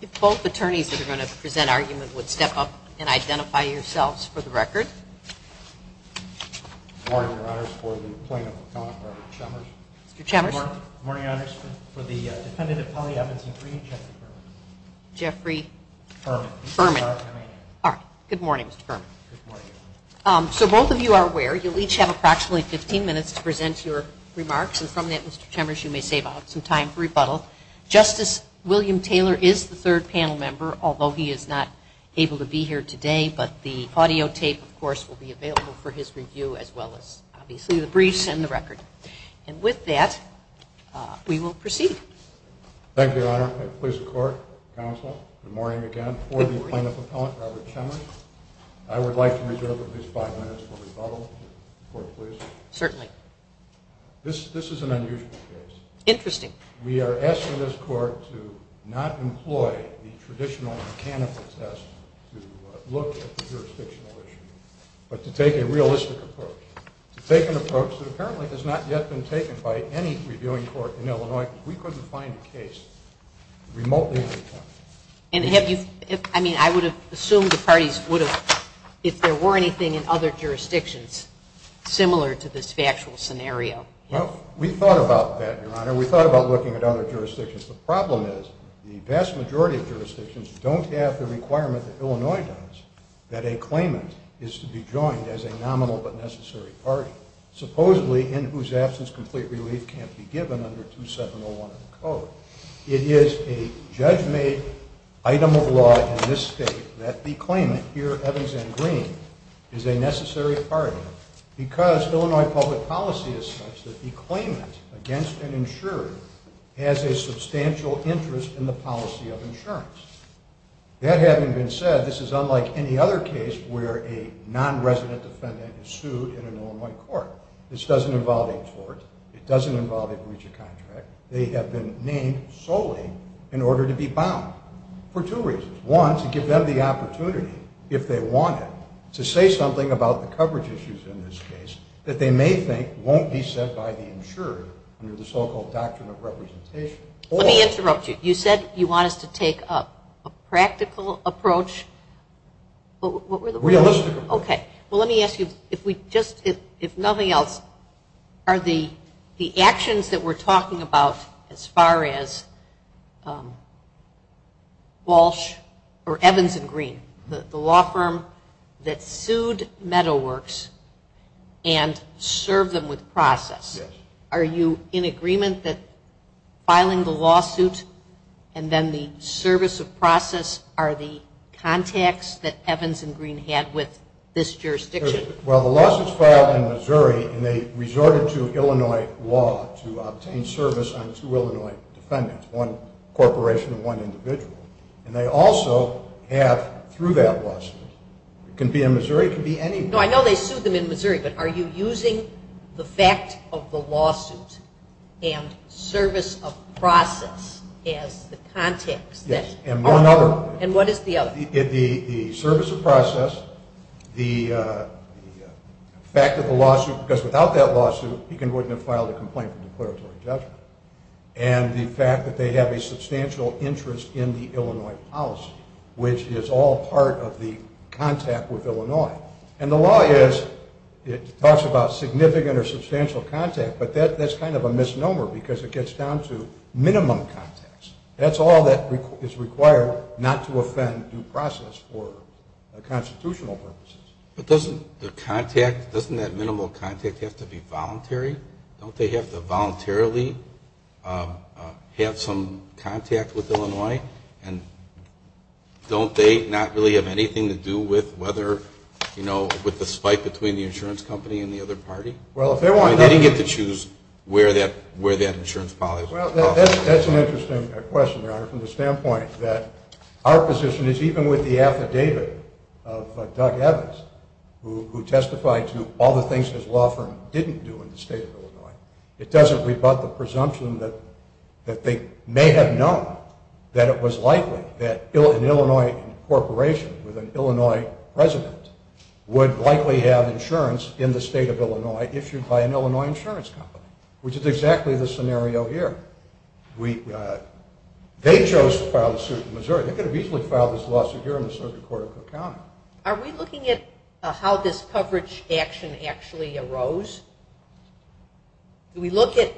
If both attorneys that are going to present argument would step up and identify yourselves for the record. Good morning, Your Honors. For the Dependent of Polly Evans and Green, Jeffrey Berman. Good morning, Mr. Berman. So both of you are aware, you'll each have approximately 15 minutes to present your remarks, and from that, Mr. Chemers, you may save up some time for rebuttal. Justice William Taylor is the third panel member, although he is not able to be here today, but the audio tape, of course, will be available for his review, as well as, obviously, the briefs and the record. And with that, we will proceed. Thank you, Your Honor. Please, the Court, Counsel, good morning again. For the plaintiff appellant, Robert Chemers, I would like to reserve at least five minutes for rebuttal. Certainly. This is an unusual case. Interesting. We are asking this Court to not employ the traditional mechanical test to look at the jurisdictional issue, but to take a realistic approach. To take an approach that apparently has not yet been taken by any reviewing court in Illinois. We couldn't find a case remotely. And have you, I mean, I would have assumed the parties would have, if there were anything in other jurisdictions similar to this factual scenario. Well, we thought about that, Your Honor. We thought about looking at other jurisdictions. The problem is the vast majority of jurisdictions don't have the requirement that Illinois does that a claimant is to be joined as a nominal but necessary party. Supposedly, in whose absence complete relief can't be given under 2701 of the Code. It is a judge-made item of law in this State that the claimant, here Evans N. Green, is a necessary party because Illinois public policy is such that the claimant, against an insurer, has a substantial interest in the policy of insurance. That having been said, this is unlike any other case where a non-resident defendant is sued in an Illinois court. This doesn't involve a tort. It doesn't involve a breach of contract. They have been named solely in order to be bound. For two reasons. One, to give them the opportunity, if they want it, to say something about the coverage issues in this case that they may think won't be set by the insurer under the so-called Doctrine of Representation. Let me interrupt you. You said you want us to take a practical approach. Realistically. Okay. Well, let me ask you, if nothing else, are the actions that we're talking about as far as Walsh or Evans N. Green, the law firm that sued Meadoworks and served them with process, are you in agreement that filing the lawsuit and then the service of process are the contacts that Evans and Green had with this jurisdiction? Well, the lawsuits filed in Missouri, and they resorted to Illinois law to obtain service on two Illinois defendants, one corporation and one individual. And they also have, through that lawsuit, it can be in Missouri, it can be anywhere. No, I know they sued them in Missouri, but are you using the fact of the lawsuit and service of process as the contacts? Yes. And one other. And what is the other? The service of process, the fact that the lawsuit, because without that lawsuit, he couldn't have filed a complaint for declaratory judgment. And the fact that they have a substantial interest in the Illinois policy, which is all part of the contact with Illinois. And the law is, it talks about significant or substantial contact, but that's kind of a misnomer because it gets down to minimum contacts. That's all that is required not to offend due process for constitutional purposes. But doesn't the contact, doesn't that minimal contact have to be voluntary? Don't they have to voluntarily have some contact with Illinois? And don't they not really have anything to do with whether, you know, with the spike between the insurance company and the other party? They didn't get to choose where that insurance policy was. Well, that's an interesting question, Your Honor, from the standpoint that our position is even with the affidavit of Doug Evans, who testified to all the things his law firm didn't do in the state of Illinois, it doesn't rebut the presumption that they may have known that it was likely that an Illinois corporation with an Illinois president would likely have insurance in the state of Illinois issued by an Illinois insurance company, which is exactly the scenario here. They chose to file the suit in Missouri. They could have easily filed this lawsuit here in the circuit court of Cook County. Are we looking at how this coverage action actually arose? Do we look at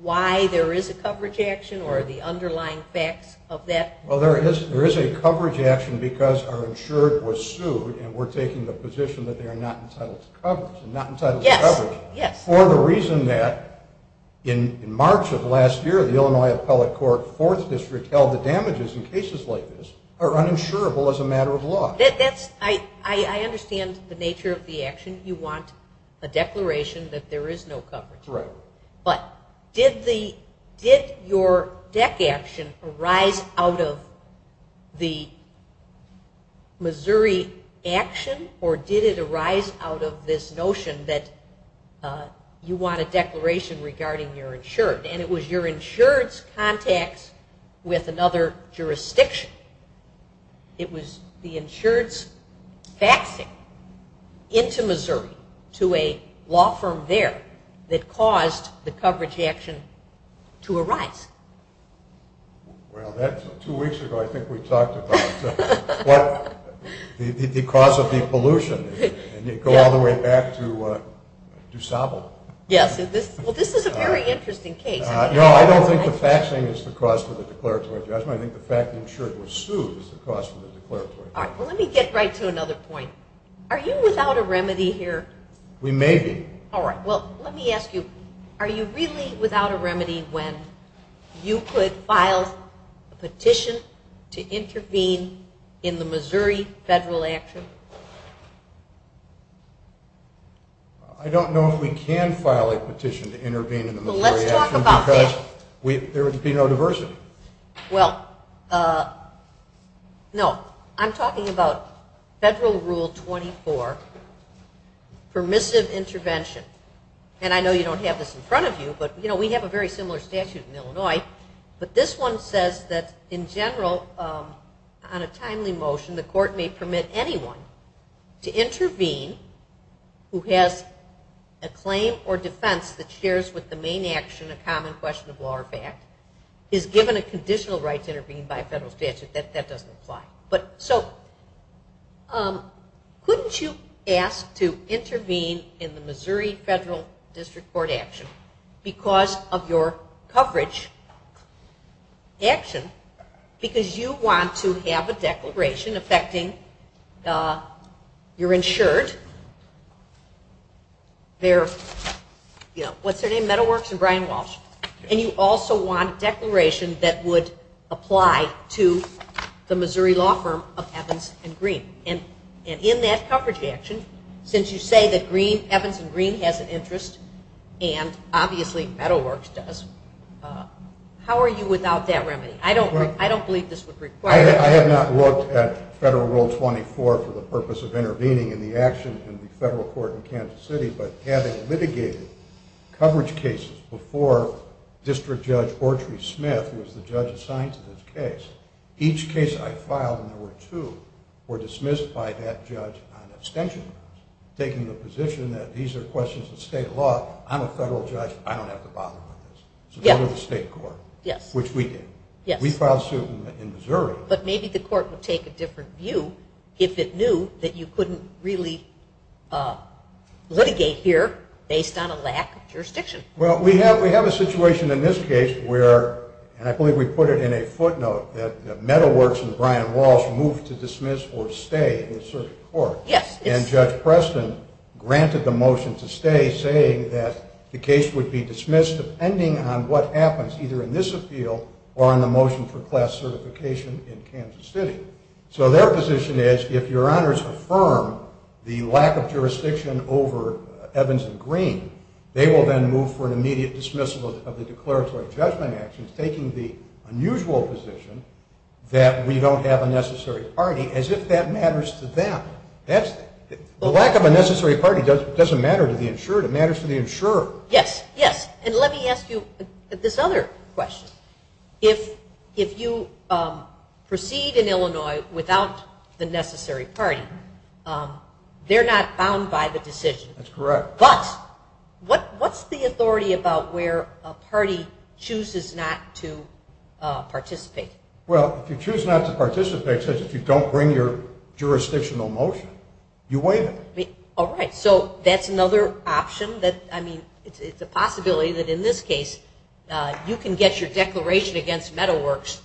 why there is a coverage action or the underlying facts of that? Well, there is a coverage action because our insured was sued, and we're taking the position that they are not entitled to coverage. Yes, yes. For the reason that in March of last year, the Illinois Appellate Court Fourth District held the damages in cases like this are uninsurable as a matter of law. I understand the nature of the action. You want a declaration that there is no coverage. Right. But did your DEC action arise out of the Missouri action, or did it arise out of this notion that you want a declaration regarding your insured? And it was your insured's contacts with another jurisdiction. It was the insured's faxing into Missouri to a law firm there that caused the coverage action to arise. Well, that's two weeks ago. I think we talked about the cause of the pollution, and you go all the way back to DuSable. Yes. Well, this is a very interesting case. No, I don't think the faxing is the cause for the declaratory judgment. I think the fact the insured was sued is the cause for the declaratory judgment. All right, well, let me get right to another point. Are you without a remedy here? We may be. All right, well, let me ask you, are you really without a remedy when you could file a petition to intervene in the Missouri federal action? I don't know if we can file a petition to intervene in the Missouri action because there would be no diversity. Well, no. I'm talking about Federal Rule 24, permissive intervention. And I know you don't have this in front of you, but we have a very similar statute in Illinois. But this one says that, in general, on a timely motion, the court may permit anyone to intervene who has a claim or defense that shares with the main action a common question of law or fact, is given a conditional right to intervene by a federal statute. That doesn't apply. So couldn't you ask to intervene in the Missouri federal district court action because of your coverage action, because you want to have a declaration affecting your insured, what's their name, Meadow Works and Brian Walsh, and you also want a declaration that would apply to the Missouri law firm of Evans and Green. And in that coverage action, since you say that Evans and Green has an interest and obviously Meadow Works does, how are you without that remedy? I don't believe this would require it. I have not looked at Federal Rule 24 for the purpose of intervening in the action in the federal court in Kansas City, but having litigated coverage cases before District Judge Ortry Smith, who was the judge assigned to this case, each case I filed, and there were two, were dismissed by that judge on extension grounds, taking the position that these are questions of state law. I'm a federal judge. I don't have to bother with this. So go to the state court, which we did. We filed suit in Missouri. But maybe the court would take a different view if it knew that you couldn't really litigate here based on a lack of jurisdiction. Well, we have a situation in this case where, and I believe we put it in a footnote, that Meadow Works and Brian Walsh moved to dismiss or stay in the circuit court. And Judge Preston granted the motion to stay, saying that the case would be dismissed depending on what happens, either in this appeal or in the motion for class certification in Kansas City. So their position is, if your honors affirm the lack of jurisdiction over Evans and Green, they will then move for an immediate dismissal of the declaratory judgment actions, taking the unusual position that we don't have a necessary party, as if that matters to them. The lack of a necessary party doesn't matter to the insured. It matters to the insurer. Yes, yes. And let me ask you this other question. If you proceed in Illinois without the necessary party, they're not bound by the decision. That's correct. But what's the authority about where a party chooses not to participate? Well, if you choose not to participate, such as if you don't bring your jurisdictional motion, you waive it. All right. So that's another option that, I mean, it's a possibility that in this case you can get your declaration against Meadow Works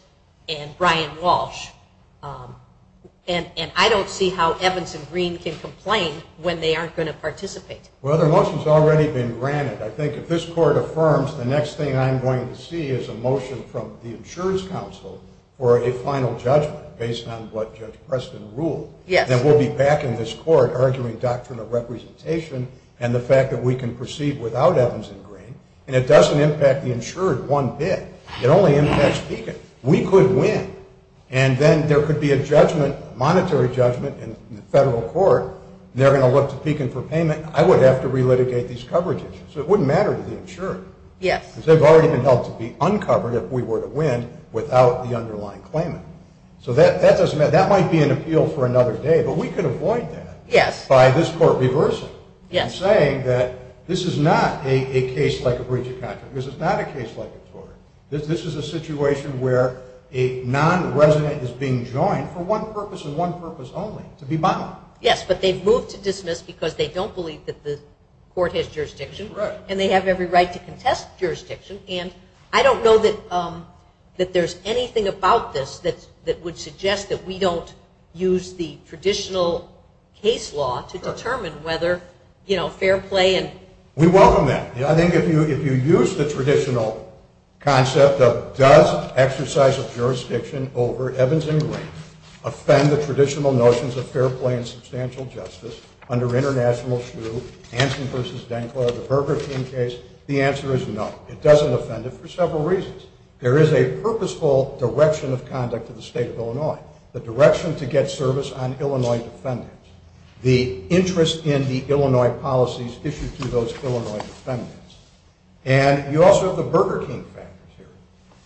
and Brian Walsh, and I don't see how Evans and Green can complain when they aren't going to participate. Well, their motion's already been granted. I think if this court affirms the next thing I'm going to see is a motion from the insurance council for a final judgment based on what Judge Preston ruled. Yes. Then we'll be back in this court arguing doctrinal representation and the And it doesn't impact the insured one bit. It only impacts Pekin. We could win, and then there could be a judgment, monetary judgment in the federal court, and they're going to look to Pekin for payment. I would have to relitigate these coverage issues. So it wouldn't matter to the insured. Yes. Because they've already been held to be uncovered if we were to win without the underlying claimant. So that doesn't matter. That might be an appeal for another day, but we could avoid that by this court reversing and saying that this is not a case like a breach of contract. Because it's not a case like a tort. This is a situation where a non-resident is being joined for one purpose and one purpose only, to be bound. Yes, but they've moved to dismiss because they don't believe that the court has jurisdiction. Right. And they have every right to contest jurisdiction, and I don't know that there's anything about this that would suggest that we don't use the traditional case law to determine whether, you know, fair play and We welcome that. I think if you use the traditional concept of does exercise of jurisdiction over Evans and Green offend the traditional notions of fair play and substantial justice under International Shoe, Hanson v. DenClerc, the Burger King case, the answer is no. It doesn't offend it for several reasons. There is a purposeful direction of conduct to the State of Illinois, the direction to get service on Illinois defendants, the interest in the Illinois policies issued to those Illinois defendants. And you also have the Burger King factors here.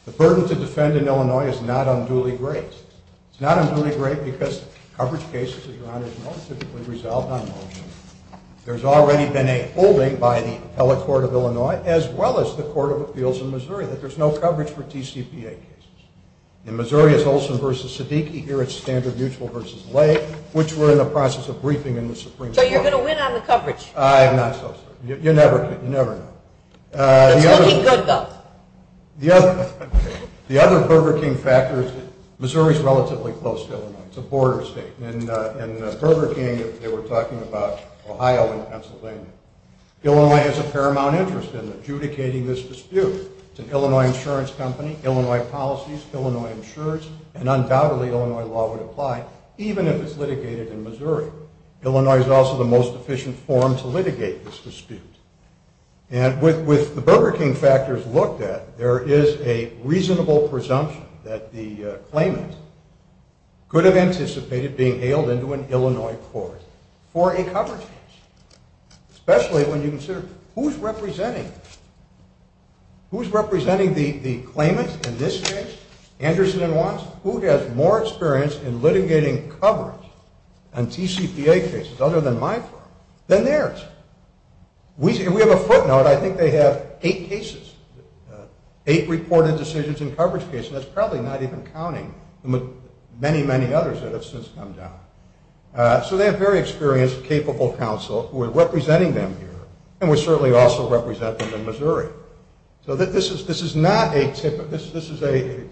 The burden to defend in Illinois is not unduly great. It's not unduly great because coverage cases, as your Honor has noted, are typically resolved on motion. There's already been a holding by the Appellate Court of Illinois, as well as the Court of Appeals in Missouri, that there's no coverage for TCPA cases. In Missouri, it's Olson v. So you're going to win on the coverage? I'm not so sure. You never know. It's looking good, though. The other Burger King factor is that Missouri is relatively close to Illinois. It's a border state. In Burger King, they were talking about Ohio and Pennsylvania. Illinois has a paramount interest in adjudicating this dispute. It's an Illinois insurance company, Illinois policies, Illinois insurance, and undoubtedly Illinois law would apply even if it's litigated in Missouri. Illinois is also the most efficient forum to litigate this dispute. And with the Burger King factors looked at, there is a reasonable presumption that the claimant could have anticipated being ailed into an Illinois court for a coverage case, especially when you consider who's representing the claimant in this case, Anderson and Watts, who has more experience in litigating coverage on TCPA cases, other than my firm, than theirs. We have a footnote. I think they have eight cases, eight reported decisions in coverage cases. That's probably not even counting many, many others that have since come down. So they have very experienced, capable counsel who are representing them here, and we certainly also represent them in Missouri. So this is not a typical, this is a, to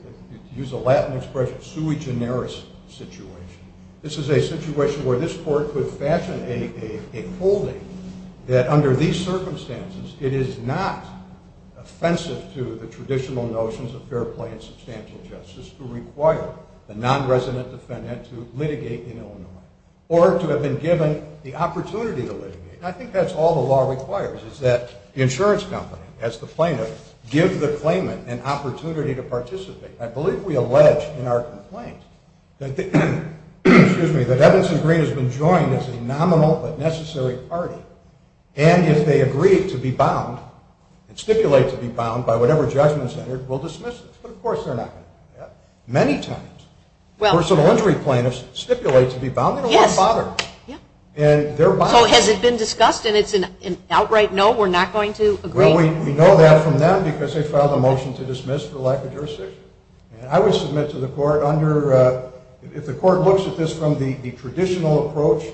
use a Latin expression, sui generis situation. This is a situation where this court could fashion a holding that under these circumstances, it is not offensive to the traditional notions of fair play and substantial justice to require the non-resident defendant to litigate in Illinois or to have been given the opportunity to litigate. And I think that's all the law requires, is that the insurance company, as the plaintiff, gives the claimant an opportunity to participate. I believe we allege in our complaint that, excuse me, that Evanston Green has been joined as a nominal but necessary party, and if they agree to be bound and stipulate to be bound by whatever judgment is entered, we'll dismiss this. But of course they're not going to do that. Many times, personal injury plaintiffs stipulate to be bound, they don't want to bother. So has it been discussed and it's an outright no, we're not going to agree? Well, we know that from them because they filed a motion to dismiss for lack of jurisdiction. And I would submit to the court under, if the court looks at this from the traditional approach,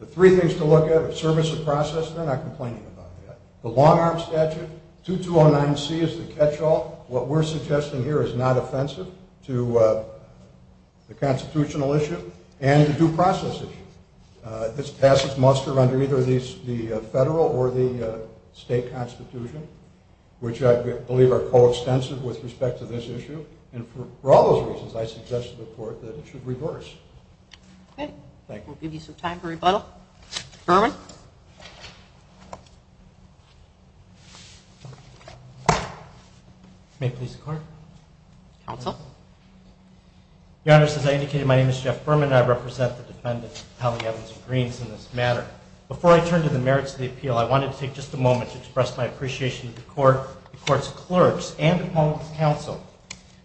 the three things to look at are service of process, they're not complaining about that, the long-arm statute, 2209C is the catch-all, what we're suggesting here is not offensive to the constitutional issue, and the due process issue. This passes muster under either the federal or the state constitution, which I believe are coextensive with respect to this issue. And for all those reasons, I suggest to the court that it should reverse. Okay. Thank you. We'll give you some time for rebuttal. Berman? May it please the Court? Counsel? Your Honor, as I indicated, my name is Jeff Berman, and I represent the defendant, Allie Evans-Greens, in this matter. Before I turn to the merits of the appeal, I wanted to take just a moment to express my appreciation to the court, the court's clerks, and the public's counsel,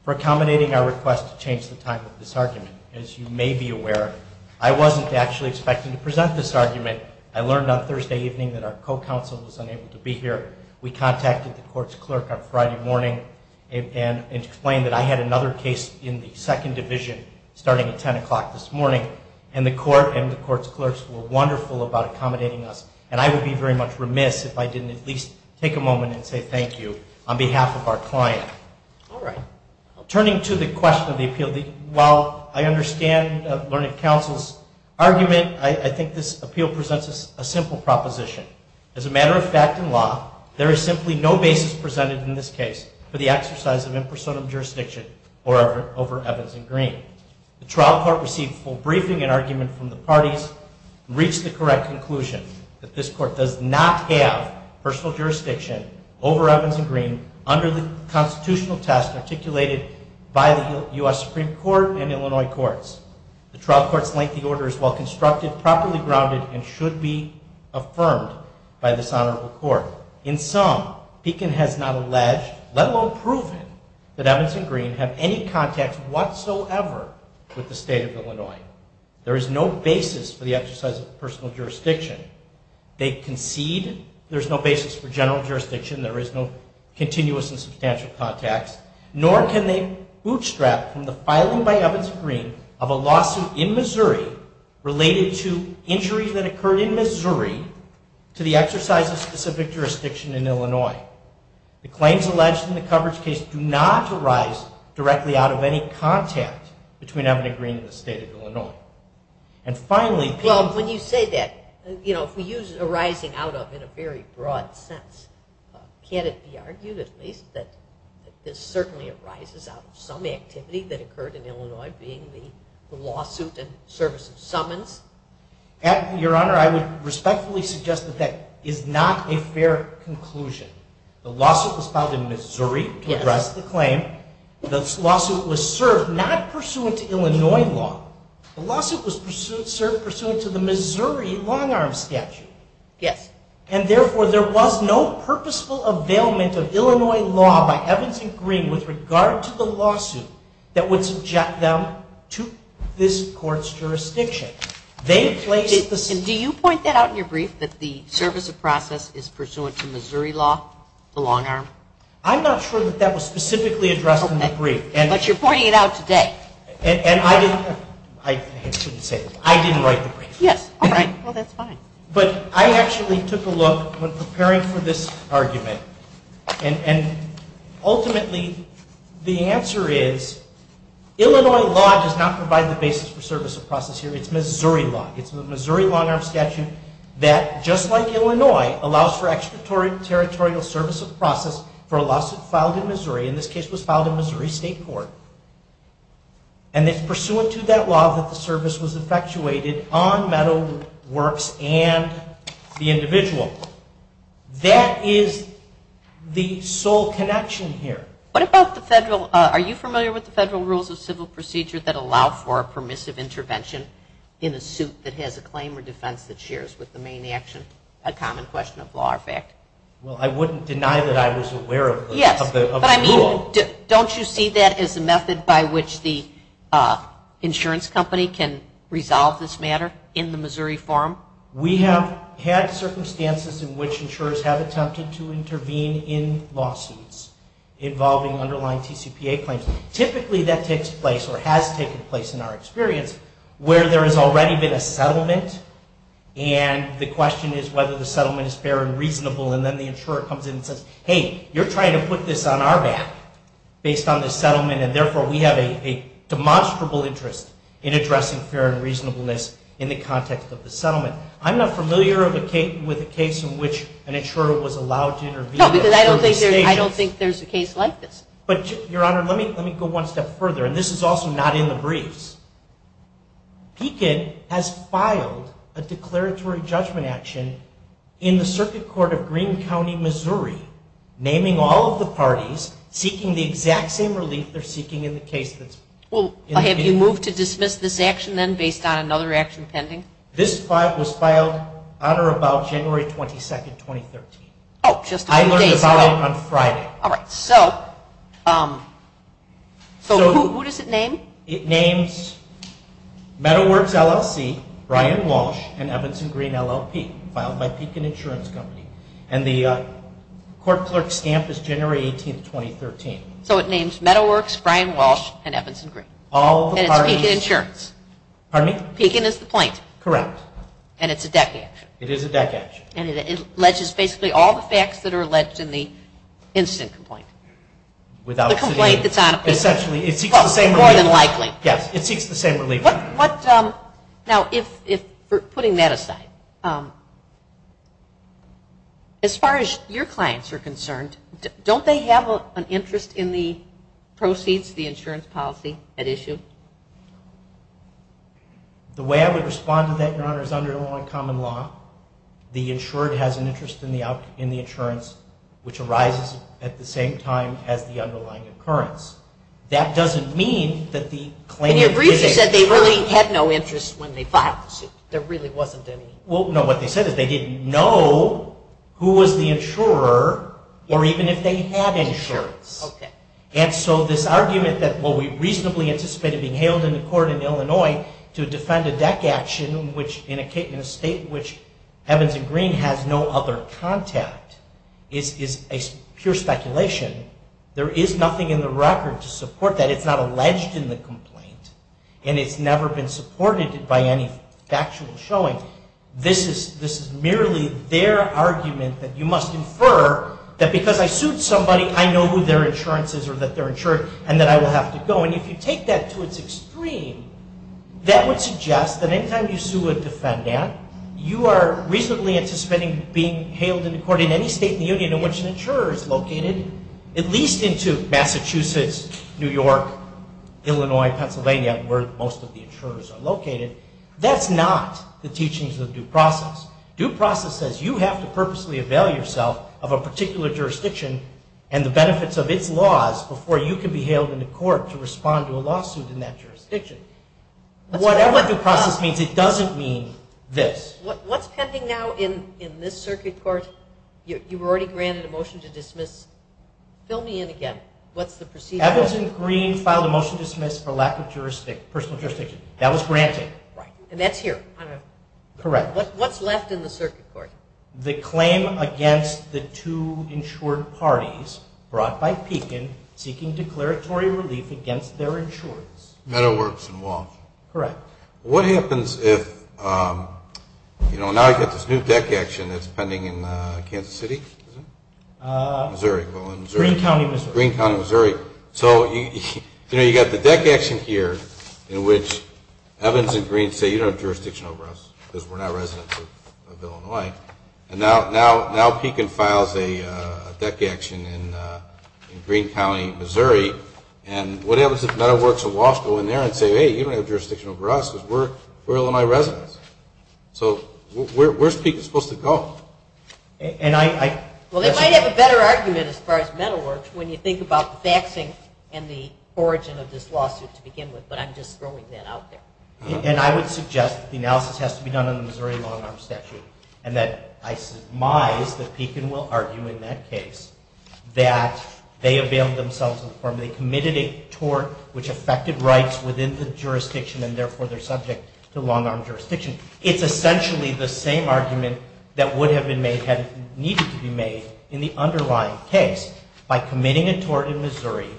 for accommodating our request to change the time of this argument. As you may be aware, I wasn't actually expecting to present this argument. I learned on Thursday evening that our co-counsel was unable to be here. We contacted the court's clerk on Friday morning and explained that I had another case in the second division starting at 10 o'clock this morning, and the court and the court's clerks were wonderful about accommodating us. And I would be very much remiss if I didn't at least take a moment and say thank you on behalf of our client. All right. Turning to the question of the appeal, while I understand Learned Counsel's argument, I think this appeal presents a simple proposition. As a matter of fact in law, there is simply no basis presented in this case for the exercise of impersonal jurisdiction over Evans and Green. The trial court received a full briefing and argument from the parties and reached the correct conclusion that this court does not have personal jurisdiction over Evans and Green under the constitutional test articulated by the U.S. Supreme Court and Illinois courts. The trial court's lengthy order is well-constructed, properly grounded, and should be affirmed by this honorable court. In sum, Beacon has not alleged, let alone proven, that Evans and Green have any contacts whatsoever with the state of Illinois. There is no basis for the exercise of personal jurisdiction. They concede there's no basis for general jurisdiction, there is no continuous and substantial contacts, of a lawsuit in Missouri related to injuries that occurred in Missouri to the exercise of specific jurisdiction in Illinois. The claims alleged in the coverage case do not arise directly out of any contact between Evans and Green and the state of Illinois. And finally... Well, when you say that, you know, if we use arising out of in a very broad sense, can't it be argued at least that this certainly arises out of some activity that occurred in Illinois, being the lawsuit in service of summons? Your Honor, I would respectfully suggest that that is not a fair conclusion. The lawsuit was filed in Missouri to address the claim. The lawsuit was served not pursuant to Illinois law. The lawsuit was served pursuant to the Missouri long-arm statute. Yes. And therefore, there was no purposeful availment of Illinois law by Evans and Green with regard to the lawsuit that would subject them to this Court's jurisdiction. They placed the... And do you point that out in your brief, that the service of process is pursuant to Missouri law, the long-arm? I'm not sure that that was specifically addressed in the brief. But you're pointing it out today. And I didn't write the brief. Yes. All right. Well, that's fine. But I actually took a look when preparing for this argument, and ultimately the answer is Illinois law does not provide the basis for service of process here. It's Missouri law. It's the Missouri long-arm statute that, just like Illinois, allows for extraterritorial service of process for a lawsuit filed in Missouri. In this case, it was filed in Missouri State Court. And it's pursuant to that law that the service was infatuated on Meadow Works and the individual. That is the sole connection here. What about the federal? Are you familiar with the federal rules of civil procedure that allow for a permissive intervention in a suit that has a claim or defense that shares with the main action, a common question of law or fact? Well, I wouldn't deny that I was aware of the rule. Yes. But I mean, don't you see that as a method by which the insurance company can resolve this matter in the Missouri forum? We have had circumstances in which insurers have attempted to intervene in lawsuits involving underlying TCPA claims. Typically that takes place or has taken place in our experience where there has already been a settlement and the question is whether the settlement is fair and reasonable, and then the insurer comes in and says, hey, you're trying to put this on our back based on the settlement, and therefore we have a demonstrable interest in addressing fair and reasonableness in the context of the settlement. I'm not familiar with a case in which an insurer was allowed to intervene. No, because I don't think there's a case like this. But, Your Honor, let me go one step further, and this is also not in the briefs. PCID has filed a declaratory judgment action in the Circuit Court of Greene County, Missouri, naming all of the parties seeking the exact same relief they're seeking in the case that's in the brief. Well, have you moved to dismiss this action then based on another action pending? This was filed on or about January 22, 2013. Oh, just a few days ago. I learned about it on Friday. All right. So who does it name? It names Meadow Works, LLC, Brian Walsh, and Evans & Greene, LLP, filed by Pekin Insurance Company, and the court clerk's stamp is January 18, 2013. So it names Meadow Works, Brian Walsh, and Evans & Greene. And it's Pekin Insurance. Pardon me? Pekin is the point. Correct. And it's a deck action. It is a deck action. And it alleges basically all the facts that are alleged in the incident complaint. The complaint that's on it. Essentially, it seeks the same relief. More than likely. Yes, it seeks the same relief. Now, putting that aside, as far as your clients are concerned, don't they have an interest in the proceeds, the insurance policy at issue? The way I would respond to that, Your Honor, is under a law in common law. The insured has an interest in the insurance, which arises at the same time as the underlying occurrence. That doesn't mean that the claimant didn't have an interest. In your brief, you said they really had no interest when they filed the suit. There really wasn't any. Well, no. What they said is they didn't know who was the insurer or even if they had insurance. Okay. And so this argument that, well, we reasonably anticipate it being hailed in the court in Illinois to defend a deck action in a state which Evans & Greene has no other contact is pure speculation. There is nothing in the record to support that. It's not alleged in the complaint, and it's never been supported by any factual showing. This is merely their argument that you must infer that because I sued somebody, I know who their insurance is or that they're insured and that I will have to go. And if you take that to its extreme, that would suggest that any time you sue a defendant, you are reasonably anticipating being hailed into court in any state in the union in which an insurer is located, at least into Massachusetts, New York, Illinois, Pennsylvania, where most of the insurers are located. That's not the teachings of due process. Due process says you have to purposely avail yourself of a particular jurisdiction and the benefits of its laws before you can be hailed into court to respond to a lawsuit in that jurisdiction. Whatever due process means, it doesn't mean this. What's pending now in this circuit court? You've already granted a motion to dismiss. Fill me in again. What's the procedure? Evans & Greene filed a motion to dismiss for lack of personal jurisdiction. That was granted. And that's here. Correct. What's left in the circuit court? The claim against the two insured parties brought by Pekin seeking declaratory relief against their insurance. Meadow Works & Walsh. Correct. What happens if, you know, now you've got this new deck action that's pending in Kansas City, is it? Missouri. Greene County, Missouri. Greene County, Missouri. So, you know, you've got the deck action here in which Evans & Greene say you don't have jurisdiction over us because we're not residents of Illinois. And now Pekin files a deck action in Greene County, Missouri. And what happens if Meadow Works & Walsh go in there and say, hey, you don't have jurisdiction over us because we're Illinois residents. So where's Pekin supposed to go? Well, they might have a better argument as far as Meadow Works when you think about the faxing and the origin of this lawsuit to begin with, but I'm just throwing that out there. And I would suggest the analysis has to be done in the Missouri Long-Arm Statute and that I surmise that Pekin will argue in that case that they availed themselves of the firm. They committed a tort which affected rights within the jurisdiction and therefore they're subject to long-arm jurisdiction. It's essentially the same argument that would have needed to be made in the underlying case. By committing a tort in Missouri,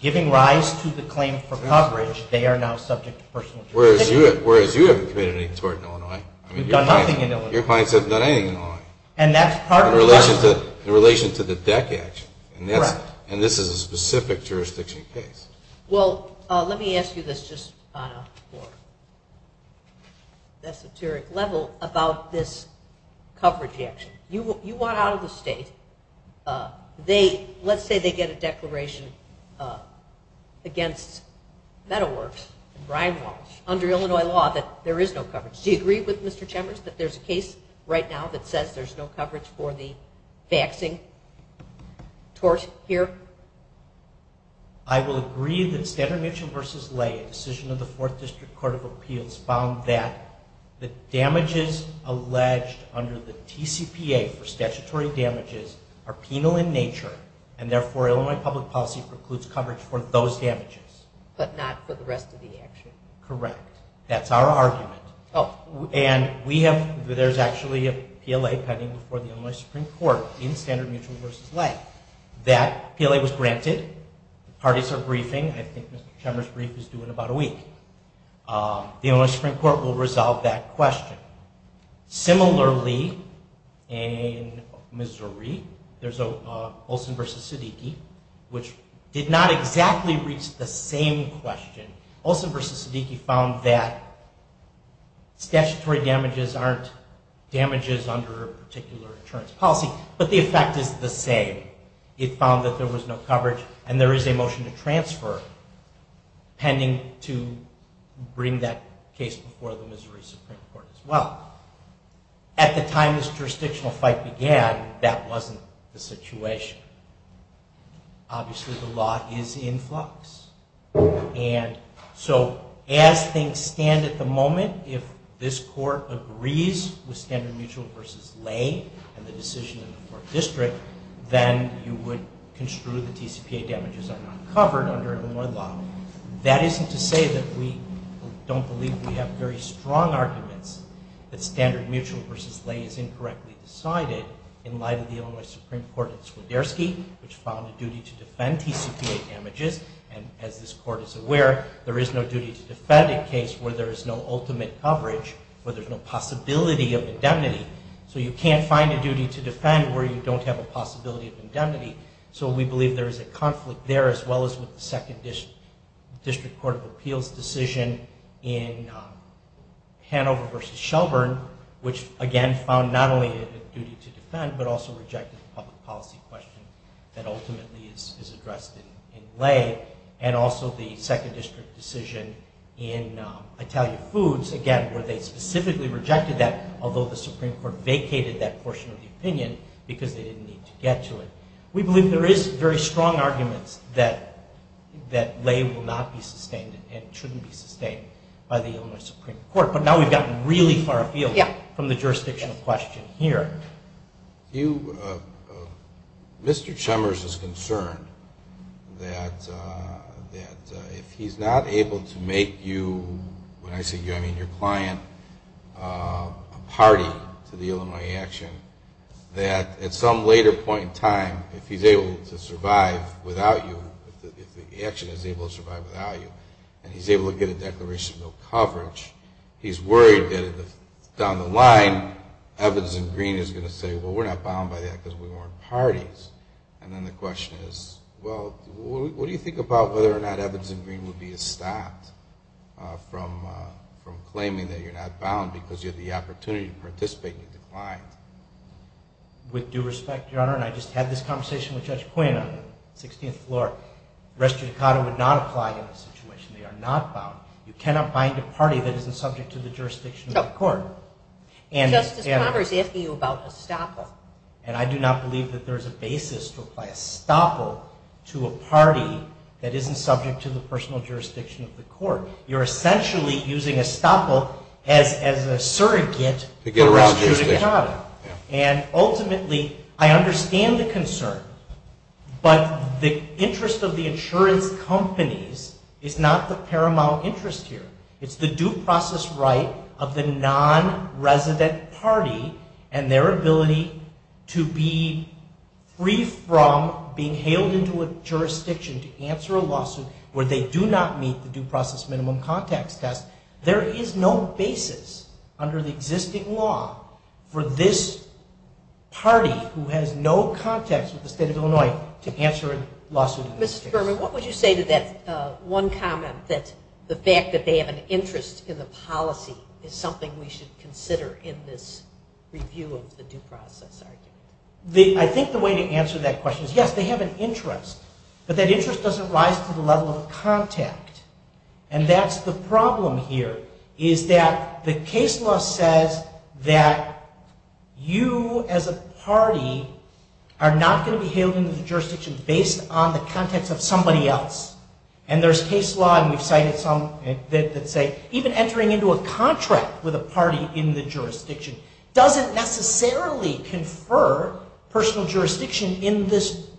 giving rise to the claim for coverage, they are now subject to personal jurisdiction. Whereas you haven't committed any tort in Illinois. Your clients haven't done anything in Illinois. In relation to the DEC action, and this is a specific jurisdiction case. Well, let me ask you this just on a more esoteric level about this coverage action. You want out of the state. Let's say they get a declaration against Meadow Works and Brian Walsh under Illinois law that there is no coverage. Do you agree with Mr. Chemers that there's a case right now that says there's no coverage for the faxing tort here? I will agree that Standard & Mitchell v. Lay, a decision of the Fourth District Court of Appeals, found that the damages alleged under the TCPA for statutory damages are penal in nature and therefore Illinois public policy precludes coverage for those damages. But not for the rest of the action. Correct. That's our argument. And there's actually a PLA pending before the Illinois Supreme Court in Standard & Mitchell v. Lay. That PLA was granted. Parties are briefing. I think Mr. Chemers' brief is due in about a week. The Illinois Supreme Court will resolve that question. Similarly, in Missouri, there's Olson v. Siddiqui, which did not exactly reach the same question. Olson v. Siddiqui found that statutory damages aren't damages under a particular insurance policy, but the effect is the same. It found that there was no coverage and there is a motion to transfer pending to bring that case before the Missouri Supreme Court as well. At the time this jurisdictional fight began, that wasn't the situation. Obviously the law is in flux. And so as things stand at the moment, if this Court agrees with Standard & Mitchell v. Lay and the decision in the 4th District, then you would construe that TCPA damages are not covered under Illinois law. That isn't to say that we don't believe we have very strong arguments that Standard & Mitchell v. Lay is incorrectly decided in light of the Illinois Supreme Court in Swiderski, which found a duty to defend TCPA damages and as this Court is aware, there is no duty to defend a case where there is no ultimate coverage, where there is no possibility of indemnity. So you can't find a duty to defend where you don't have a possibility of indemnity. So we believe there is a conflict there as well as with the 2nd District Court of Appeals decision in Hanover v. Shelburne, which again found not only a duty to defend, but also rejected the public policy question that ultimately is addressed in Lay and also the 2nd District decision in Italia Foods, again where they specifically rejected that, although the Supreme Court vacated that portion of the opinion because they didn't need to get to it. We believe there is very strong arguments that Lay will not be sustained and shouldn't be sustained by the Illinois Supreme Court, but now we've gotten really far afield from the jurisdictional question here. Mr. Chemers is concerned that if he's not able to make you, when I say you, I mean your client, a party to the Illinois action, that at some later point in time, if he's able to survive without you, if the action is able to survive without you, and he's able to get a declaration of no coverage, he's worried that down the line, Evans and Green is going to say, well, we're not bound by that because we weren't parties. And then the question is, well, what do you think about whether or not Evans and Green would be stopped from claiming that you're not bound because you have the opportunity to participate in the decline? With due respect, Your Honor, and I just had this conversation with Judge Quena, 16th floor, res judicata would not apply in this situation. They are not bound. You cannot bind a party that isn't subject to the jurisdiction of the court. Justice Conover is asking you about estoppel. And I do not believe that there is a basis to apply estoppel to a party that isn't subject to the personal jurisdiction of the court. You're essentially using estoppel as a surrogate to get a res judicata. And ultimately, I understand the concern, but the interest of the insurance companies is not the paramount interest here. It's the due process right of the non-resident party and their ability to be free from being hailed into a jurisdiction to answer a lawsuit where they do not meet the due process minimum context test. There is no basis under the existing law for this party, who has no context with the state of Illinois, to answer a lawsuit in this case. Mr. Berman, what would you say to that one comment that the fact that they have an interest in the policy is something we should consider in this review of the due process argument? I think the way to answer that question is, yes, they have an interest, but that interest doesn't rise to the level of contact. And that's the problem here, is that the case law says that you as a party are not going to be hailed into the jurisdiction based on the context of somebody else. And there's case law, and we've cited some, that say even entering into a contract with a party in the jurisdiction doesn't necessarily confer personal jurisdiction in this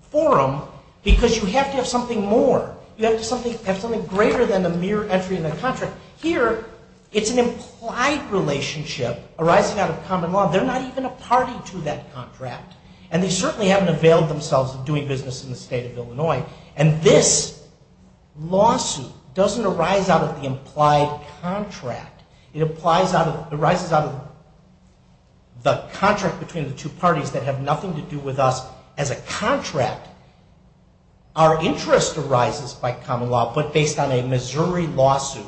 forum, because you have to have something more. You have to have something greater than a mere entry in the contract. Here, it's an implied relationship arising out of common law. They're not even a party to that contract. And they certainly haven't availed themselves of doing business in the state of Illinois. And this lawsuit doesn't arise out of the implied contract. It arises out of the contract between the two parties that have nothing to do with us as a contract. Our interest arises by common law, but based on a Missouri lawsuit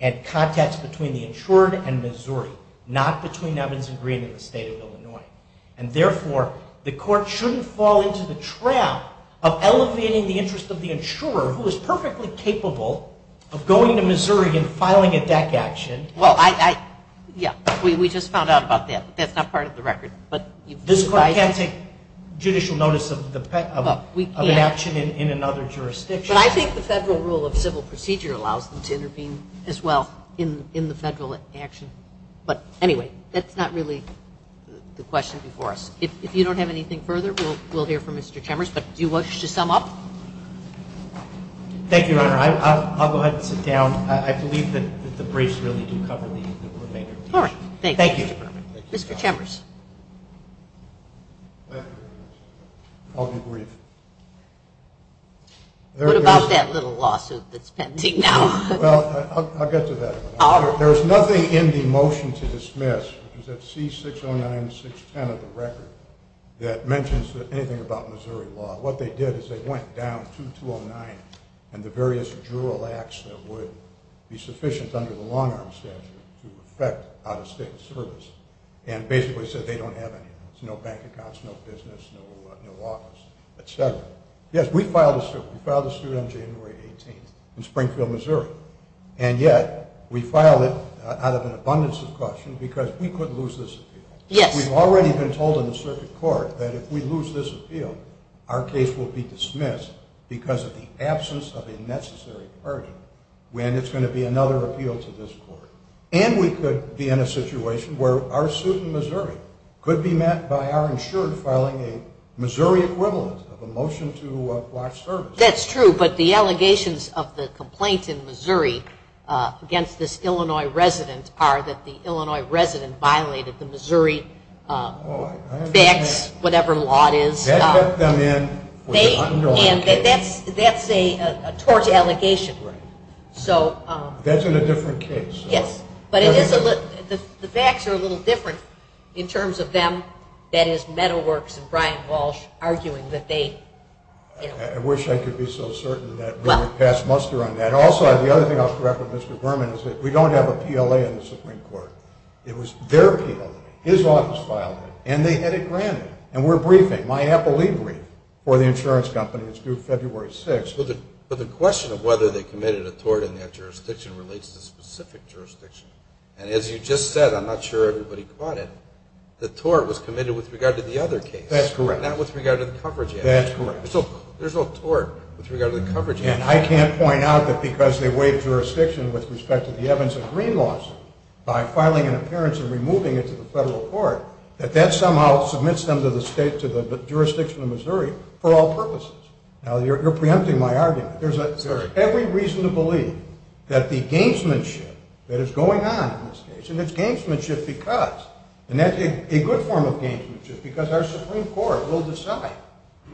and contacts between the insured and Missouri, not between Evans and Green and the state of Illinois. And therefore, the court shouldn't fall into the trap of elevating the interest of the insurer, who is perfectly capable of going to Missouri and filing a deck action. Well, I... Yeah, we just found out about that. That's not part of the record. This court can't take judicial notice of an action in another jurisdiction. But I think the federal rule of civil procedure allows them to intervene as well in the federal action. But anyway, that's not really the question before us. If you don't have anything further, we'll hear from Mr. Chemers. But do you wish to sum up? Thank you, Your Honor. I'll go ahead and sit down. I believe that the briefs really do cover the remainder. All right. Thank you. Mr. Chemers. I'll be brief. What about that little lawsuit that's pending now? Well, I'll get to that. There's nothing in the motion to dismiss, which is at C-609-610 of the record, that mentions anything about Missouri law. What they did is they went down to 209 and the various jural acts that would be sufficient under the long-arm statute to affect out-of-state service and basically said they don't have any. There's no bank accounts, no business, no office, et cetera. Yes, we filed a suit. We filed a suit on January 18th in Springfield, Missouri. And yet we filed it out of an abundance of questions because we couldn't lose this appeal. Yes. We've already been told in the circuit court that if we lose this appeal, our case will be dismissed because of the absence of a necessary version when it's going to be another appeal to this court. And we could be in a situation where our suit in Missouri could be met by our insurer filing a Missouri equivalent of a motion to block service. That's true, but the allegations of the complaint in Missouri against this Illinois resident are that the Illinois resident violated the Missouri facts, whatever law it is. That put them in with an underlying case. That's a tort allegation. Right. That's in a different case. Yes. But the facts are a little different in terms of them, that is, Meadow Works and Brian Walsh arguing that they... I wish I could be so certain that we would pass muster on that. Also, the other thing I'll correct with Mr. Berman is that we don't have a PLA in the Supreme Court. It was their PLA. His office filed it, and they had it granted. And we're briefing. My appellee briefed for the insurance company. It's due February 6th. But the question of whether they committed a tort in that jurisdiction relates to a specific jurisdiction. And as you just said, I'm not sure everybody caught it, the tort was committed with regard to the other case. That's correct. Not with regard to the coverage. That's correct. So there's no tort with regard to the coverage. And I can't point out that because they waived jurisdiction with respect to the Evans and Green lawsuit by filing an appearance and removing it to the federal court that that somehow submits them to the jurisdiction of Missouri for all purposes. Now, you're preempting my argument. There's every reason to believe that the gamesmanship that is going on in this case, and it's gamesmanship because, and that's a good form of gamesmanship, because our Supreme Court will decide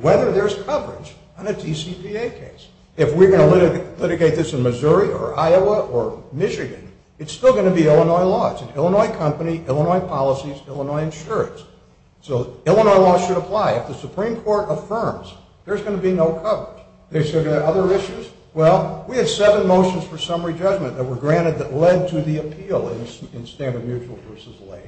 whether there's coverage on a TCPA case. If we're going to litigate this in Missouri or Iowa or Michigan, it's still going to be Illinois laws. Illinois company, Illinois policies, Illinois insurance. So Illinois laws should apply. If the Supreme Court affirms, there's going to be no coverage. There's going to be other issues. Well, we had seven motions for summary judgment that were granted that led to the appeal in standard mutual versus lay.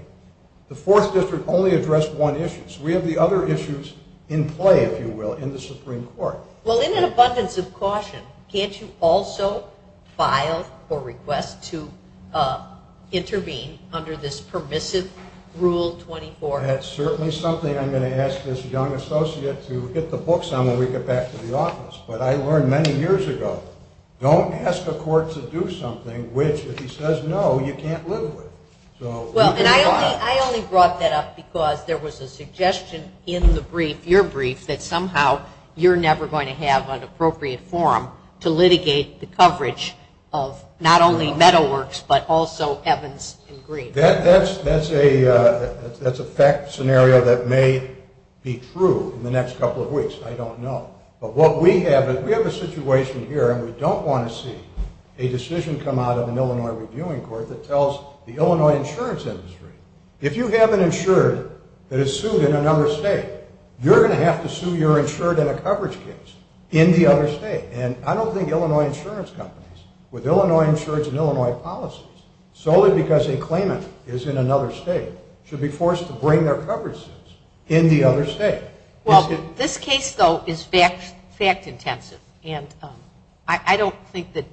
The Fourth District only addressed one issue, so we have the other issues in play, if you will, in the Supreme Court. Well, in an abundance of caution, can't you also file a request to intervene under this permissive Rule 24? That's certainly something I'm going to ask this young associate to get the books on when we get back to the office. But I learned many years ago, don't ask a court to do something which, if he says no, you can't live with. Well, and I only brought that up because there was a suggestion in the brief, in your brief, that somehow you're never going to have an appropriate forum to litigate the coverage of not only Meadow Works, but also Evans and Green. That's a fact scenario that may be true in the next couple of weeks. I don't know. But what we have is we have a situation here, and we don't want to see a decision come out of an Illinois reviewing court that tells the Illinois insurance industry, if you have an insurer that is sued in another state, you're going to have to sue your insurer in a coverage case in the other state. And I don't think Illinois insurance companies, with Illinois insurance and Illinois policies, solely because they claim it is in another state, should be forced to bring their coverage suits in the other state. Well, this case, though, is fact-intensive, and I don't think that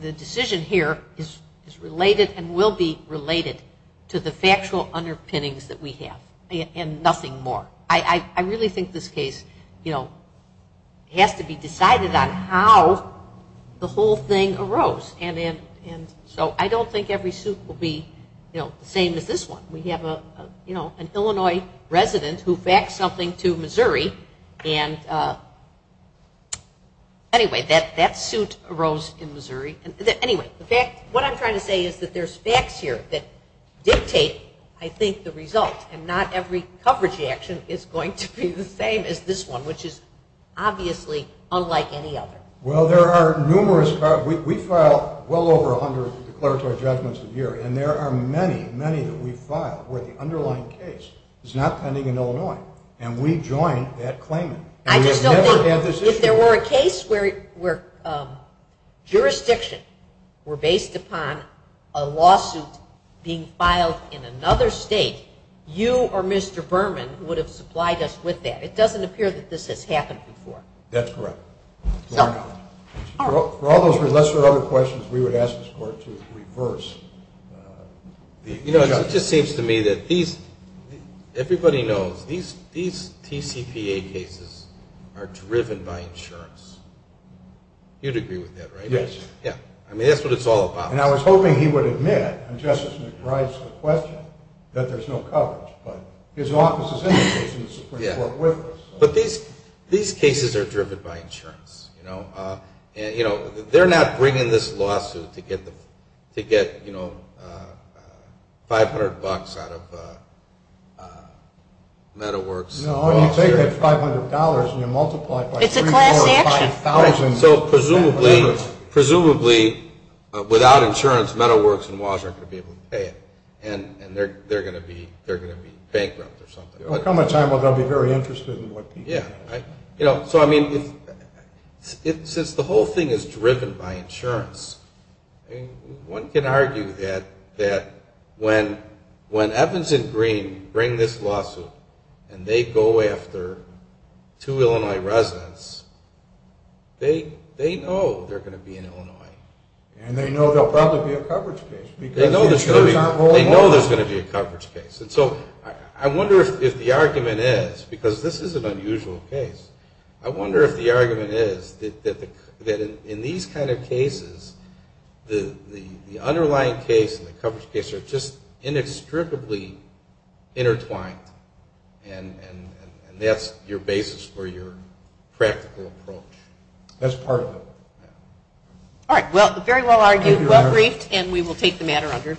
the decision here is related and will be related to the factual underpinnings that we have, and nothing more. I really think this case has to be decided on how the whole thing arose. And so I don't think every suit will be the same as this one. We have an Illinois resident who faxed something to Missouri, and anyway, that suit arose in Missouri. Anyway, what I'm trying to say is that there's facts here that dictate, I think, the result, and not every coverage action is going to be the same as this one, which is obviously unlike any other. Well, there are numerous. We file well over 100 declaratory judgments a year, and there are many, many that we file where the underlying case is not pending in Illinois, and we join that claimant. I just don't think if there were a case where jurisdiction were based upon a lawsuit being filed in another state, you or Mr. Berman would have supplied us with that. It doesn't appear that this has happened before. That's correct. For all those lesser-known questions, we would ask this Court to reverse. You know, it just seems to me that everybody knows these TCPA cases are driven by insurance. You'd agree with that, right? Yes. Yeah. I mean, that's what it's all about. And I was hoping he would admit, and Justice McBride's the question, that there's no coverage. But his office is in the case and the Supreme Court with us. But these cases are driven by insurance. You know, they're not bringing this lawsuit to get, you know, $500 out of Metalworks. No, you take that $500 and you multiply it by $3,000. It's a class action. So, presumably, without insurance, Metalworks and WAWS aren't going to be able to pay it. And they're going to be bankrupt or something. Come a time when they'll be very interested in what people do. Yeah. So, I mean, since the whole thing is driven by insurance, one can argue that when Evans and Green bring this lawsuit and they go after two Illinois residents, they know they're going to be in Illinois. And they know there'll probably be a coverage case. They know there's going to be a coverage case. And so I wonder if the argument is, because this is an unusual case, I wonder if the argument is that in these kind of cases, the underlying case and the coverage case are just inextricably intertwined and that's your basis for your practical approach. That's part of it. All right. Well, very well argued. Well briefed. And we will take the matter under advice. Yep.